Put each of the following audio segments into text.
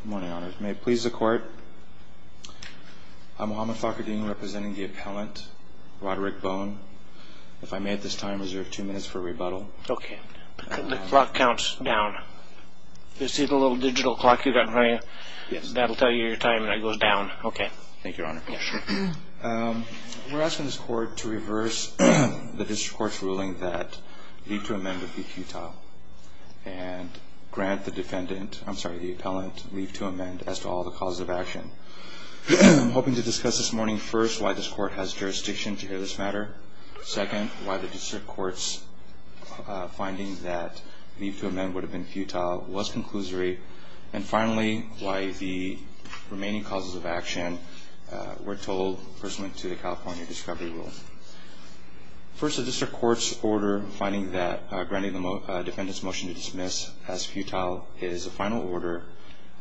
Good morning, Your Honors. May it please the Court, I'm Mohamed Fakhreddine representing the appellant, Roderick Bone. If I may at this time, I reserve two minutes for rebuttal. Okay. The clock counts down. You see the little digital clock you've got in front of you? Yes. That'll tell you your time, and it goes down. Okay. Thank you, Your Honor. Yes, sir. We're asking this Court to reverse the District Court's ruling that you need to amend the PQ Tile and grant the defendant, I'm sorry, the appellant leave to amend as to all the causes of action. I'm hoping to discuss this morning, first, why this Court has jurisdiction to hear this matter, second, why the District Court's finding that leave to amend would have been futile was conclusory, and finally, why the remaining causes of action were told pursuant to the California Discovery Rule. First, the District Court's order finding that granting the defendant's motion to dismiss as futile is a final order,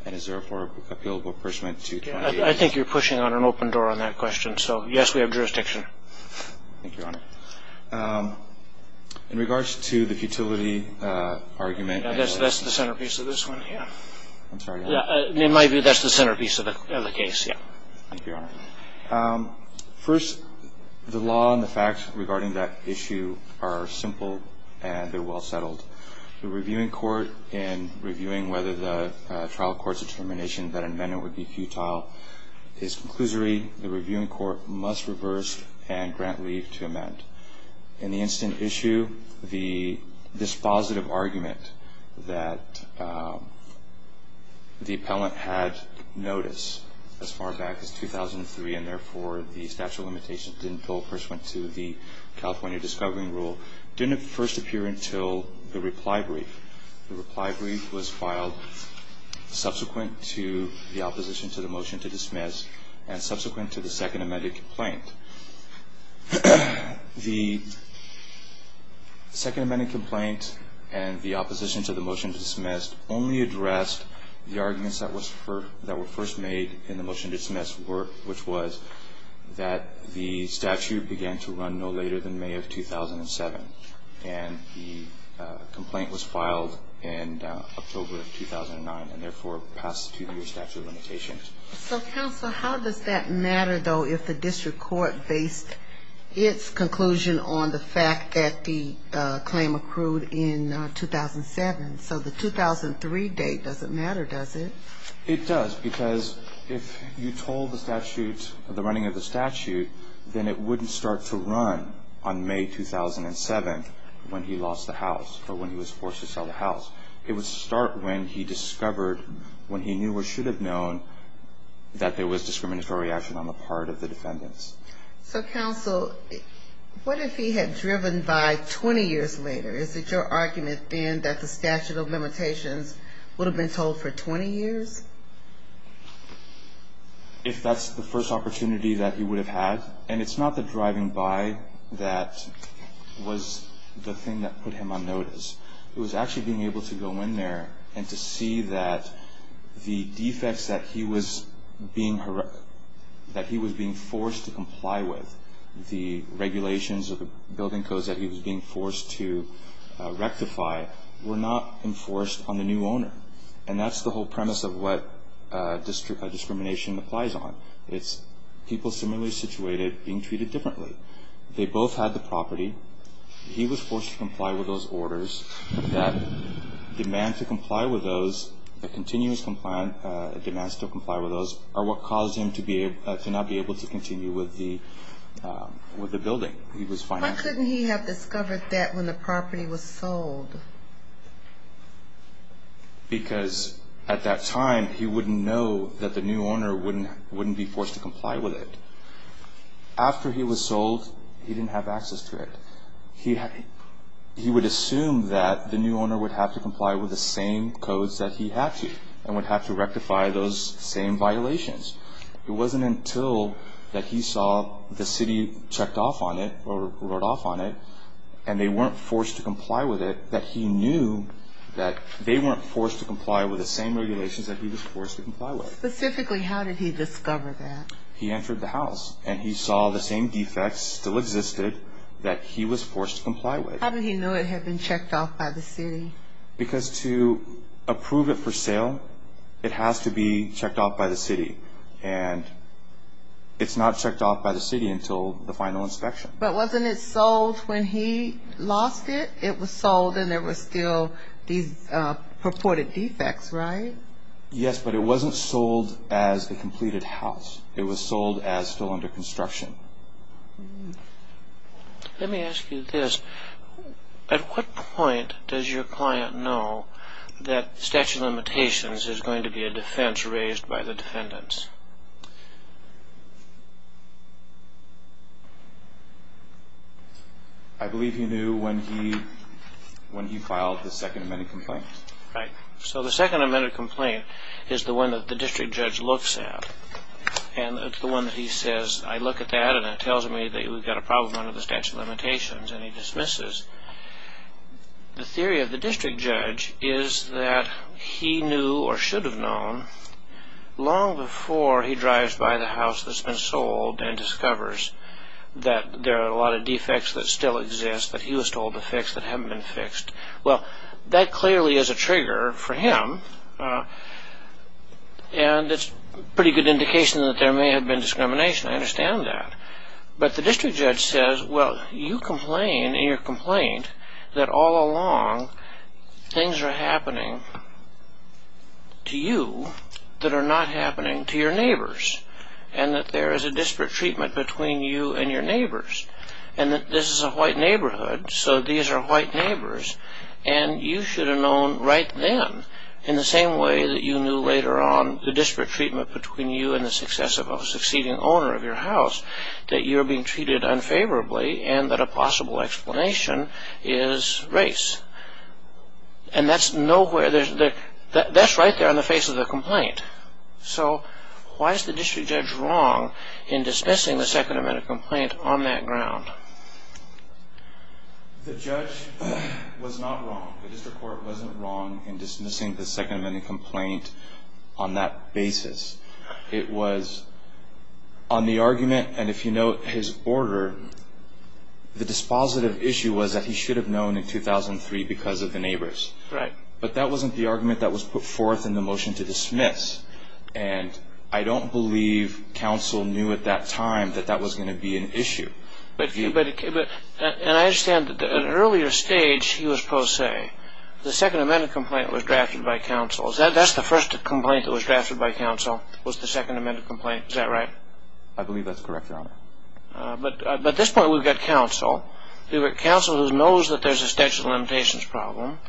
and is therefore appealable pursuant to 28- I think you're pushing on an open door on that question, so yes, we have jurisdiction. Thank you, Your Honor. In regards to the futility argument- That's the centerpiece of this one, yeah. I'm sorry, Your Honor. It might be that's the centerpiece of the case, yeah. Thank you, Your Honor. First, the law and the facts regarding that issue are simple and they're well settled. The reviewing court, in reviewing whether the trial court's determination that amendment would be futile is conclusory. The reviewing court must reverse and grant leave to amend. In the instant issue, the dispositive argument that the appellant had notice as far back as 2003 and therefore the statute of limitations didn't go pursuant to the California Discovery Rule didn't first appear until the reply brief. The reply brief was filed subsequent to the opposition to the motion to dismiss and subsequent to the second amended complaint. The second amended complaint and the opposition to the motion dismissed only addressed the arguments that were first made in the motion dismissed, which was that the statute began to run no later than May of 2007 and the complaint was filed in October of 2009 and therefore passed to the statute of limitations. So, counsel, how does that matter, though, if the district court based its conclusion on the fact that the claim accrued in 2007? So the 2003 date doesn't matter, does it? It does because if you told the statute, the running of the statute, then it wouldn't start to run on May 2007 when he lost the house or when he was forced to sell the house. It would start when he discovered, when he knew or should have known, that there was discriminatory action on the part of the defendants. So, counsel, what if he had driven by 20 years later? Is it your argument then that the statute of limitations would have been told for 20 years? If that's the first opportunity that he would have had, and it's not the driving by that was the thing that put him on notice. It was actually being able to go in there and to see that the defects that he was being forced to comply with, the regulations or the building codes that he was being forced to rectify, were not enforced on the new owner. And that's the whole premise of what discrimination applies on. It's people similarly situated being treated differently. They both had the property. He was forced to comply with those orders that demand to comply with those, a continuous demand to comply with those, are what caused him to not be able to continue with the building. Why couldn't he have discovered that when the property was sold? Because at that time, he wouldn't know that the new owner wouldn't be forced to comply with it. After he was sold, he didn't have access to it. He would assume that the new owner would have to comply with the same codes that he had to and would have to rectify those same violations. It wasn't until that he saw the city checked off on it or wrote off on it and they weren't forced to comply with it that he knew that they weren't forced to comply with the same regulations that he was forced to comply with. Specifically, how did he discover that? He entered the house and he saw the same defects still existed that he was forced to comply with. How did he know it had been checked off by the city? Because to approve it for sale, it has to be checked off by the city. And it's not checked off by the city until the final inspection. But wasn't it sold when he lost it? It was sold and there were still these purported defects, right? Yes, but it wasn't sold as a completed house. It was sold as still under construction. Let me ask you this. At what point does your client know that statute of limitations is going to be a defense raised by the defendants? I believe he knew when he filed his Second Amendment complaint. Right. So the Second Amendment complaint is the one that the district judge looks at. And it's the one that he says, I look at that and it tells me that we've got a problem under the statute of limitations. And he dismisses. The theory of the district judge is that he knew or should have known long before he drives by the house that's been sold and discovers that there are a lot of defects that still exist that he was told to fix that haven't been fixed. Well, that clearly is a trigger for him. And it's a pretty good indication that there may have been discrimination. I understand that. But the district judge says, well, you complain in your complaint that all along things are happening to you that are not happening to your neighbors. And that there is a disparate treatment between you and your neighbors. And that this is a white neighborhood, so these are white neighbors. And you should have known right then, in the same way that you knew later on the disparate treatment between you and the succeeding owner of your house, that you're being treated unfavorably and that a possible explanation is race. And that's right there on the face of the complaint. So why is the district judge wrong in dismissing the Second Amendment complaint on that ground? The judge was not wrong. The district court wasn't wrong in dismissing the Second Amendment complaint on that basis. It was on the argument, and if you note his order, the dispositive issue was that he should have known in 2003 because of the neighbors. Right. But that wasn't the argument that was put forth in the motion to dismiss. And I don't believe counsel knew at that time that that was going to be an issue. And I understand that at an earlier stage he was supposed to say, the Second Amendment complaint was drafted by counsel. That's the first complaint that was drafted by counsel was the Second Amendment complaint. Is that right? I believe that's correct, Your Honor. But at this point we've got counsel. We've got counsel who knows that there's a statute of limitations problem.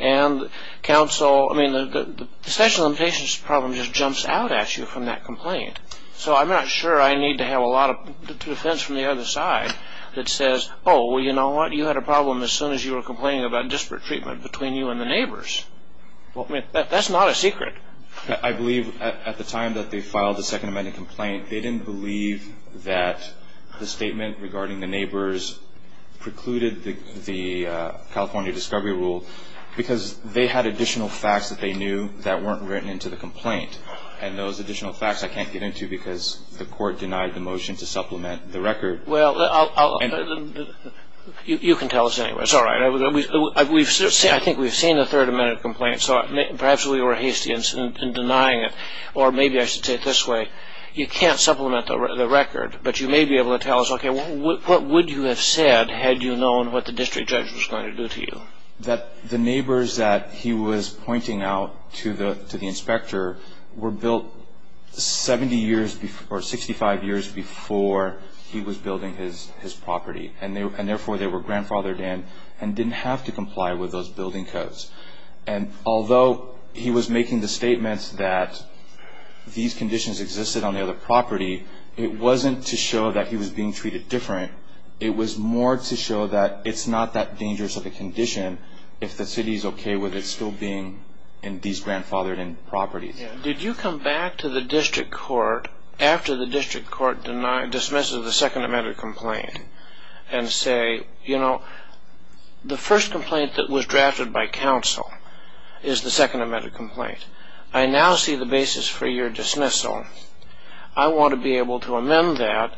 And counsel, I mean, the statute of limitations problem just jumps out at you from that complaint. So I'm not sure I need to have a lot of defense from the other side that says, oh, well, you know what? You had a problem as soon as you were complaining about disparate treatment between you and the neighbors. That's not a secret. I believe at the time that they filed the Second Amendment complaint, they didn't believe that the statement regarding the neighbors precluded the California discovery rule because they had additional facts that they knew that weren't written into the complaint. And those additional facts I can't get into because the court denied the motion to supplement the record. Well, you can tell us anyway. It's all right. I think we've seen the Third Amendment complaint, so perhaps we were hasty in denying it. Or maybe I should say it this way. You can't supplement the record, but you may be able to tell us, okay, what would you have said had you known what the district judge was going to do to you? That the neighbors that he was pointing out to the inspector were built 70 years or 65 years before he was building his property. And therefore they were grandfathered in and didn't have to comply with those building codes. And although he was making the statements that these conditions existed on the other property, it wasn't to show that he was being treated different. It was more to show that it's not that dangerous of a condition if the city is okay with it still being these grandfathered-in properties. Did you come back to the district court after the district court dismissed the Second Amendment complaint and say, you know, the first complaint that was drafted by counsel is the Second Amendment complaint. I now see the basis for your dismissal. I want to be able to amend that.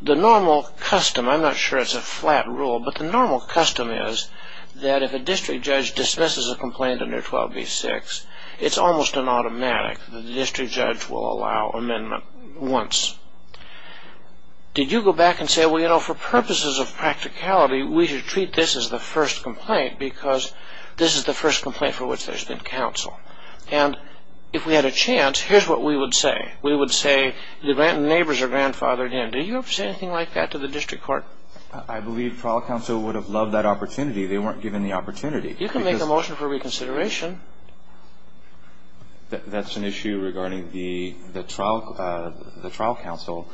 The normal custom, I'm not sure it's a flat rule, but the normal custom is that if a district judge dismisses a complaint under 12b-6, it's almost an automatic that the district judge will allow amendment once. Did you go back and say, well, you know, for purposes of practicality, we should treat this as the first complaint because this is the first complaint for which there's been counsel. And if we had a chance, here's what we would say. We would say the neighbors are grandfathered in. Do you ever say anything like that to the district court? I believe trial counsel would have loved that opportunity. They weren't given the opportunity. You can make a motion for reconsideration. That's an issue regarding the trial counsel,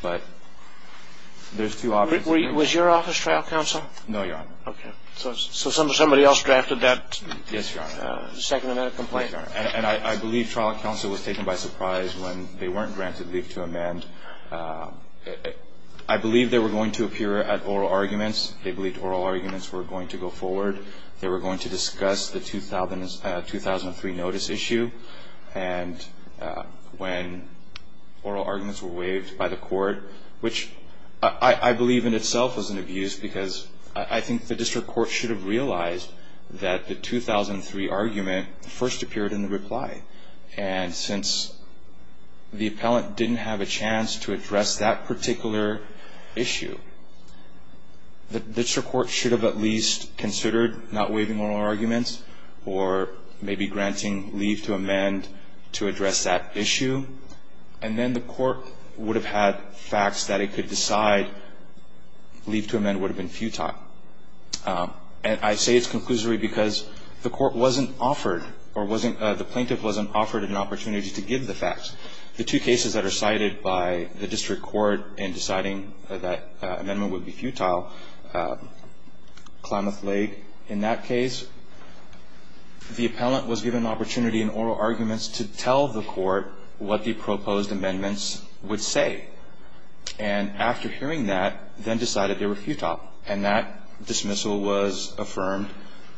but there's two options. Was your office trial counsel? No, Your Honor. Okay. So somebody else drafted that Second Amendment complaint. Yes, Your Honor. And I believe trial counsel was taken by surprise when they weren't granted leave to amend. I believe they were going to appear at oral arguments. They believed oral arguments were going to go forward. They were going to discuss the 2003 notice issue. And when oral arguments were waived by the court, which I believe in itself was an abuse because I think the district court should have realized that the 2003 argument first appeared in the reply. And since the appellant didn't have a chance to address that particular issue, the district court should have at least considered not waiving oral arguments or maybe granting leave to amend to address that issue. And then the court would have had facts that it could decide leave to amend would have been futile. And I say it's conclusory because the court wasn't offered or the plaintiff wasn't offered an opportunity to give the facts. The two cases that are cited by the district court in deciding that amendment would be futile, Klamath Lake in that case, the appellant was given an opportunity in oral arguments to tell the court what the proposed amendments would say. And after hearing that, then decided they were futile. And that dismissal was affirmed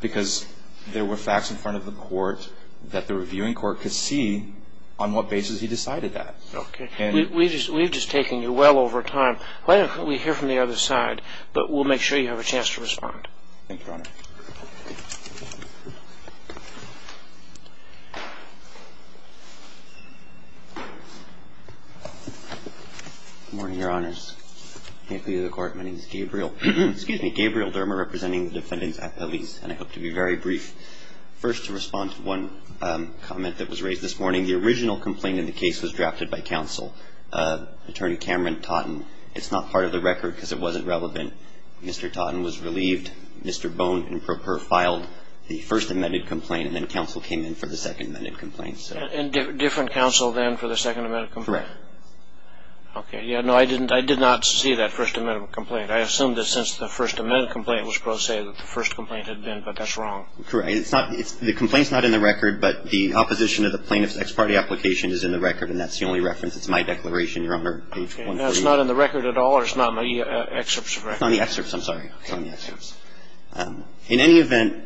because there were facts in front of the court that the reviewing court could see on what basis he decided that. Okay. We've just taken you well over time. Why don't we hear from the other side, but we'll make sure you have a chance to respond. Thank you, Your Honor. Good morning, Your Honors. Thank you to the court. My name is Gabriel. Excuse me. Gabriel Dermer representing the defendants at the lease. And I hope to be very brief. First, to respond to one comment that was raised this morning. The original complaint in the case was drafted by counsel, Attorney Cameron Totten. It's not part of the record because it wasn't relevant. Mr. Totten was relieved. Mr. Bone and Proper filed the first amended complaint, and then counsel came in for the second amended complaint. And different counsel then for the second amended complaint? Correct. Okay. No, I did not see that first amended complaint. I assumed that since the first amended complaint was pro se that the first complaint had been, but that's wrong. Correct. The complaint's not in the record, but the opposition to the plaintiff's ex parte application is in the record, and that's the only reference. It's my declaration, Your Honor. Okay. Now, it's not in the record at all, or it's not in the excerpts of the record? It's not in the excerpts. I'm sorry. It's not in the excerpts. In any event,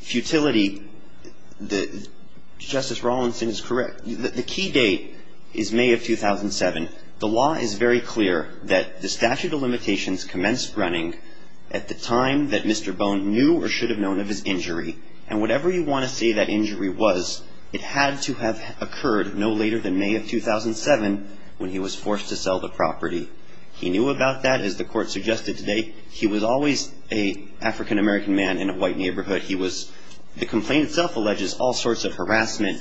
futility, Justice Rawlinson is correct. The key date is May of 2007. The law is very clear that the statute of limitations commenced running at the time that Mr. Bone knew or should have known of his injury. And whatever you want to say that injury was, it had to have occurred no later than May of 2007 when he was forced to sell the property. He knew about that, as the court suggested today. He was always an African-American man in a white neighborhood. The complaint itself alleges all sorts of harassment,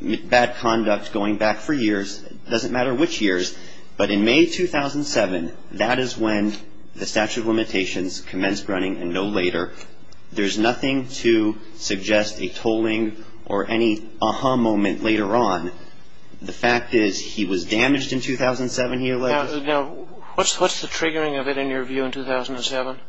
bad conduct, going back for years, doesn't matter which years, but in May 2007, that is when the statute of limitations commenced running, and no later. There's nothing to suggest a tolling or any aha moment later on. The fact is he was damaged in 2007, he alleges. Now, what's the triggering of it in your view in 2007?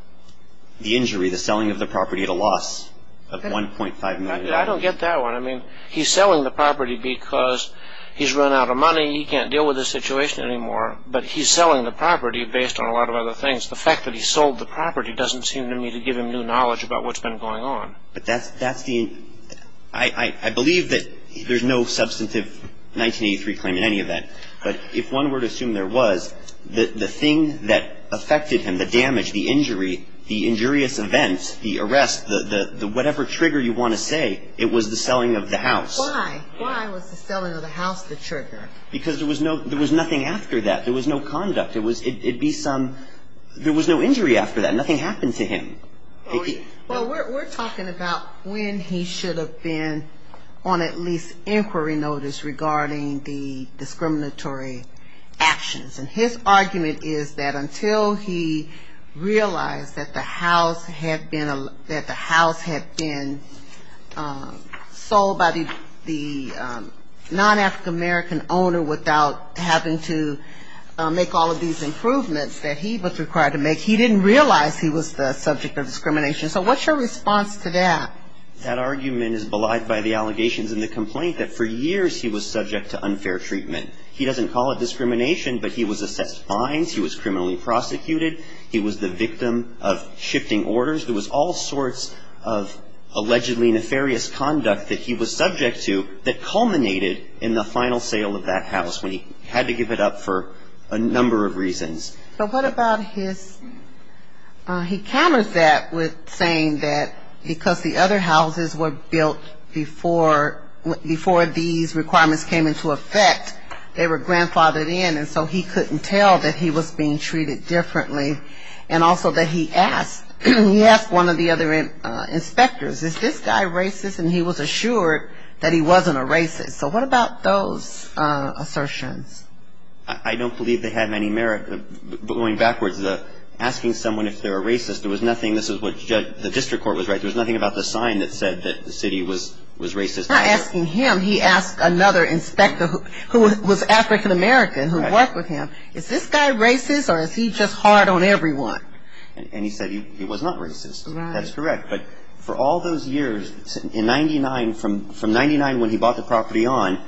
The injury, the selling of the property at a loss of $1.5 million. I don't get that one. I mean, he's selling the property because he's run out of money. He can't deal with the situation anymore, but he's selling the property based on a lot of other things. The fact that he sold the property doesn't seem to me to give him new knowledge about what's been going on. But that's the end. I believe that there's no substantive 1983 claim in any of that, but if one were to assume there was, the thing that affected him, the damage, the injury, the injurious events, the arrest, the whatever trigger you want to say, it was the selling of the house. Why? Why was the selling of the house the trigger? Because there was nothing after that. There was no conduct. There was no injury after that. Nothing happened to him. Well, we're talking about when he should have been on at least inquiry notice regarding the discriminatory actions. And his argument is that until he realized that the house had been sold by the non-African American owner without having to make all of these improvements that he was required to make, he didn't realize he was the subject of discrimination. So what's your response to that? That argument is belied by the allegations in the complaint that for years he was subject to unfair treatment. He doesn't call it discrimination, but he was assessed fines. He was criminally prosecuted. He was the victim of shifting orders. There was all sorts of allegedly nefarious conduct that he was subject to that culminated in the final sale of that house when he had to give it up for a number of reasons. But what about his he counters that with saying that because the other houses were built before these requirements came into effect, they were grandfathered in, and so he couldn't tell that he was being treated differently, and also that he asked one of the other inspectors, is this guy racist? And he was assured that he wasn't a racist. So what about those assertions? I don't believe they have any merit. Going backwards, asking someone if they're a racist, there was nothing, this is what the district court was right, there was nothing about the sign that said that the city was racist. Not asking him, he asked another inspector who was African-American who worked with him, is this guy racist or is he just hard on everyone? And he said he was not racist. That's correct. But for all those years, in 99, from 99 when he bought the property on,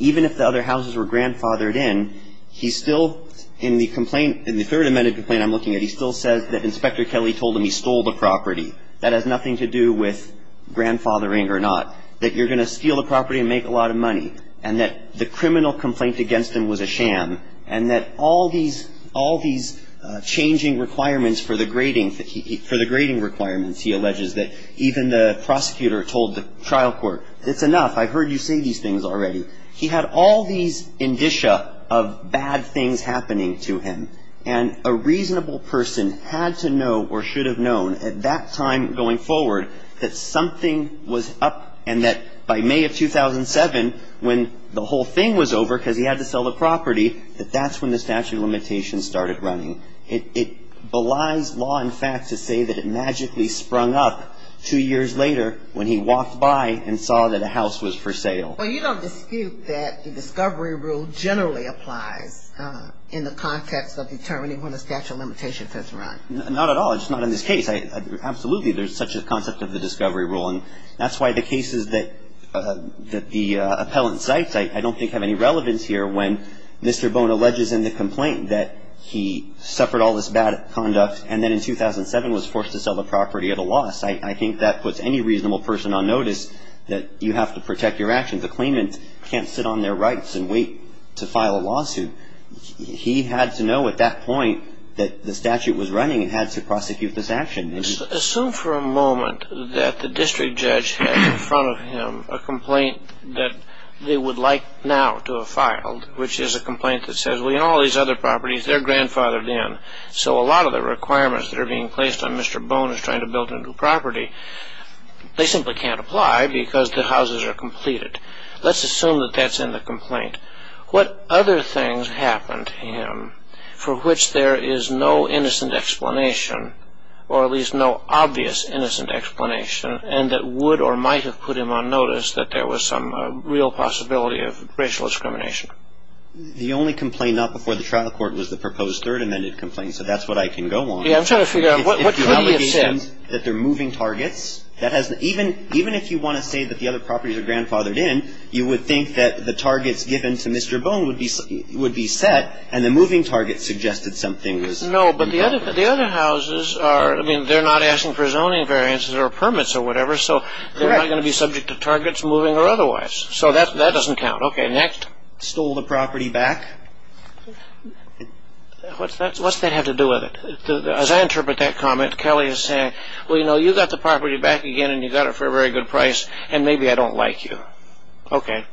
even if the other houses were grandfathered in, he still, in the complaint, in the Third Amendment complaint I'm looking at, he still says that Inspector Kelly told him he stole the property. That has nothing to do with grandfathering or not. That you're going to steal the property and make a lot of money. And that the criminal complaint against him was a sham. And that all these, all these changing requirements for the grading, for the grading requirements, he alleges that even the prosecutor told the trial court, it's enough, I heard you say these things already. He had all these indicia of bad things happening to him. And a reasonable person had to know or should have known at that time going forward that something was up and that by May of 2007, when the whole thing was over because he had to sell the property, that that's when the statute of limitations started running. It belies law and fact to say that it magically sprung up two years later when he walked by and saw that a house was for sale. Well, you don't dispute that the discovery rule generally applies in the context of determining when a statute of limitations has run. Not at all. It's not in this case. Absolutely, there's such a concept of the discovery rule. And that's why the cases that the appellant cites I don't think have any relevance here when Mr. Bone alleges in the complaint that he suffered all this bad conduct and then in 2007 was forced to sell the property at a loss. I think that puts any reasonable person on notice that you have to protect your actions. A claimant can't sit on their rights and wait to file a lawsuit. He had to know at that point that the statute was running and had to prosecute this action. Assume for a moment that the district judge had in front of him a complaint that they would like now to have filed, which is a complaint that says, well, you know, all these other properties, they're grandfathered in. So a lot of the requirements that are being placed on Mr. Bone as trying to build a new property, they simply can't apply because the houses are completed. Let's assume that that's in the complaint. What other things happened to him for which there is no innocent explanation, or at least no obvious innocent explanation, and that would or might have put him on notice that there was some real possibility of racial discrimination? The only complaint, not before the trial court, was the proposed third amended complaint. So that's what I can go on. Yeah, I'm trying to figure out what could he have said. That they're moving targets. Even if you want to say that the other properties are grandfathered in, you would think that the targets given to Mr. Bone would be set, and the moving target suggested something was. No, but the other houses are, I mean, they're not asking for zoning variances or permits or whatever, so they're not going to be subject to targets moving or otherwise. So that doesn't count. Okay, next. Stole the property back. What's that have to do with it? As I interpret that comment, Kelly is saying, well, you know, you got the property back again and you got it for a very good price, and maybe I don't like you. Okay.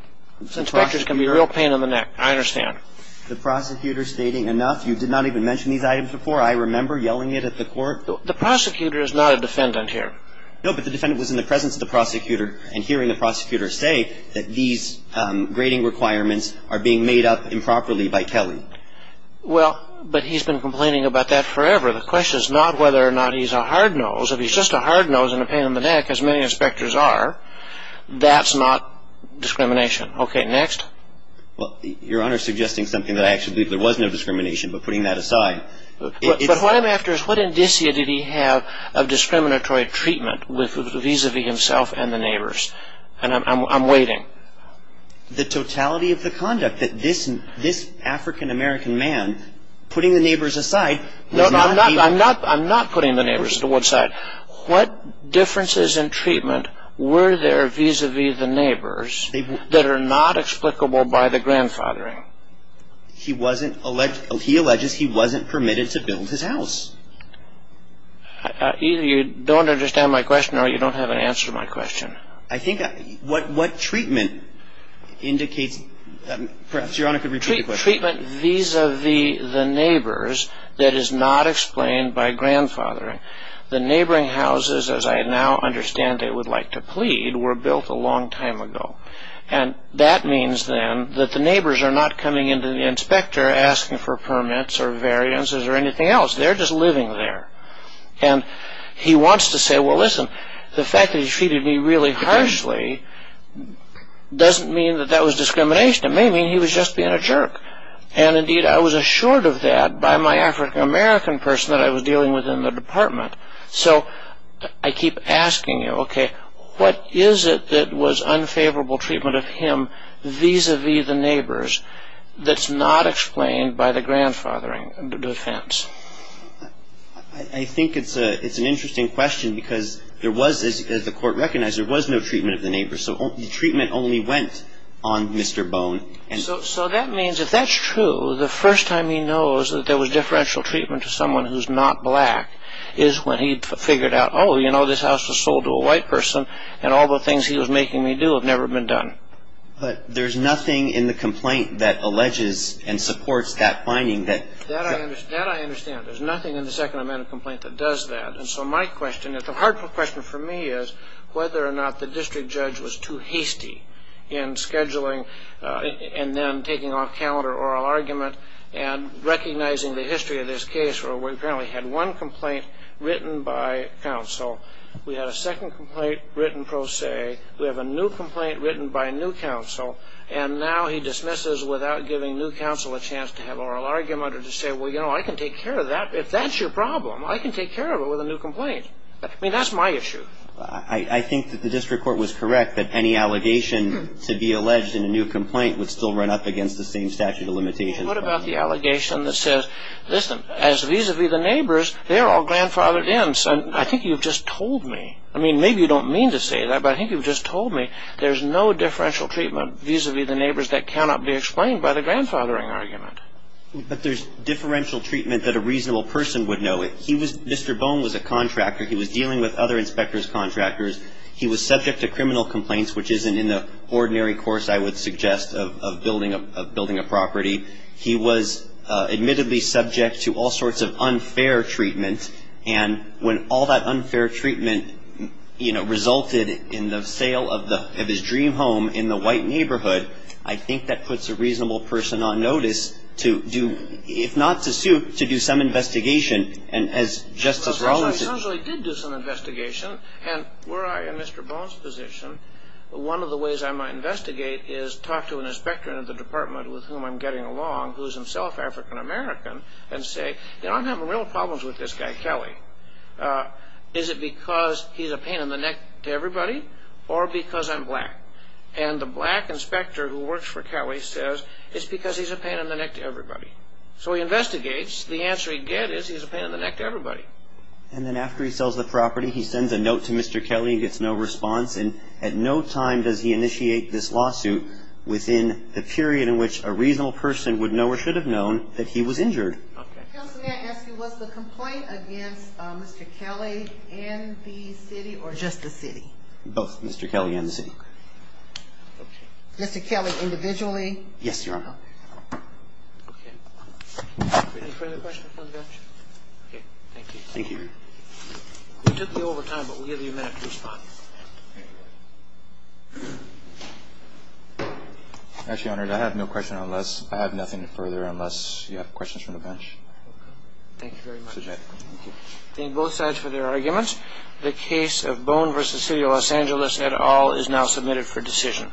Inspectors can be a real pain in the neck. I understand. The prosecutor stating enough. You did not even mention these items before. I remember yelling it at the court. The prosecutor is not a defendant here. No, but the defendant was in the presence of the prosecutor and hearing the prosecutor say that these grading requirements are being made up improperly by Kelly. Well, but he's been complaining about that forever. The question is not whether or not he's a hard nose. If he's just a hard nose and a pain in the neck, as many inspectors are, that's not discrimination. Okay, next. Well, Your Honor is suggesting something that I actually believe there was no discrimination, but putting that aside. But what I'm after is what indicia did he have of discriminatory treatment vis-a-vis himself and the neighbors? And I'm waiting. The totality of the conduct that this African-American man, putting the neighbors aside. No, I'm not putting the neighbors to one side. What differences in treatment were there vis-a-vis the neighbors that are not explicable by the grandfathering? He wasn't, he alleges he wasn't permitted to build his house. Either you don't understand my question or you don't have an answer to my question. I think what treatment indicates, perhaps Your Honor could repeat the question. Treatment vis-a-vis the neighbors that is not explained by grandfathering. The neighboring houses, as I now understand they would like to plead, were built a long time ago. And that means then that the neighbors are not coming into the inspector asking for permits or variances or anything else. They're just living there. And he wants to say, well listen, the fact that he treated me really harshly doesn't mean that that was discrimination. It may mean he was just being a jerk. And indeed I was assured of that by my African-American person that I was dealing with in the department. So I keep asking you, okay, what is it that was unfavorable treatment of him vis-a-vis the neighbors that's not explained by the grandfathering defense? I think it's an interesting question because there was, as the court recognized, there was no treatment of the neighbors. So the treatment only went on Mr. Bone. So that means if that's true, the first time he knows that there was differential treatment to someone who's not black is when he figured out, oh, you know, this house was sold to a white person and all the things he was making me do have never been done. But there's nothing in the complaint that alleges and supports that finding. That I understand. There's nothing in the second amendment complaint that does that. And so my question, the hard question for me is whether or not the district judge was too hasty in scheduling and then taking off calendar oral argument and recognizing the history of this case where we apparently had one complaint written by counsel. We had a second complaint written pro se. We have a new complaint written by a new counsel. And now he dismisses without giving new counsel a chance to have oral argument or to say, well, you know, I can take care of that. If that's your problem, I can take care of it with a new complaint. I mean, that's my issue. I think that the district court was correct that any allegation to be alleged in a new complaint would still run up against the same statute of limitations. What about the allegation that says, listen, as vis-a-vis the neighbors, they're all grandfathered in. I think you've just told me. I mean, maybe you don't mean to say that, but I think you've just told me there's no differential treatment vis-a-vis the neighbors that cannot be explained by the grandfathering argument. But there's differential treatment that a reasonable person would know. Mr. Bone was a contractor. He was dealing with other inspectors' contractors. He was subject to criminal complaints, which isn't in the ordinary course, I would suggest, of building a property. He was admittedly subject to all sorts of unfair treatment. And when all that unfair treatment, you know, resulted in the sale of his dream home in the white neighborhood, I think that puts a reasonable person on notice to do, if not to suit, to do some investigation. Well, he did do some investigation, and were I in Mr. Bone's position, one of the ways I might investigate is talk to an inspector in the department with whom I'm getting along, who is himself African-American, and say, you know, I'm having real problems with this guy Kelly. Is it because he's a pain in the neck to everybody, or because I'm black? And the black inspector who works for Kelly says, it's because he's a pain in the neck to everybody. So he investigates. The answer he'd get is he's a pain in the neck to everybody. And then after he sells the property, he sends a note to Mr. Kelly. He gets no response, and at no time does he initiate this lawsuit within the period in which a reasonable person would know or should have known that he was injured. Okay. Counsel, may I ask you, was the complaint against Mr. Kelly and the city, or just the city? Both Mr. Kelly and the city. Okay. Mr. Kelly individually? Yes, Your Honor. Okay. Any further questions from the bench? Thank you. Thank you, Your Honor. We took you over time, but we'll give you a minute to respond. Okay. Actually, Your Honor, I have no question unless, I have nothing further unless you have questions from the bench. Okay. Thank you very much. Thank you. Thank both sides for their arguments. The case of Bone v. City of Los Angeles et al. is now submitted for decision.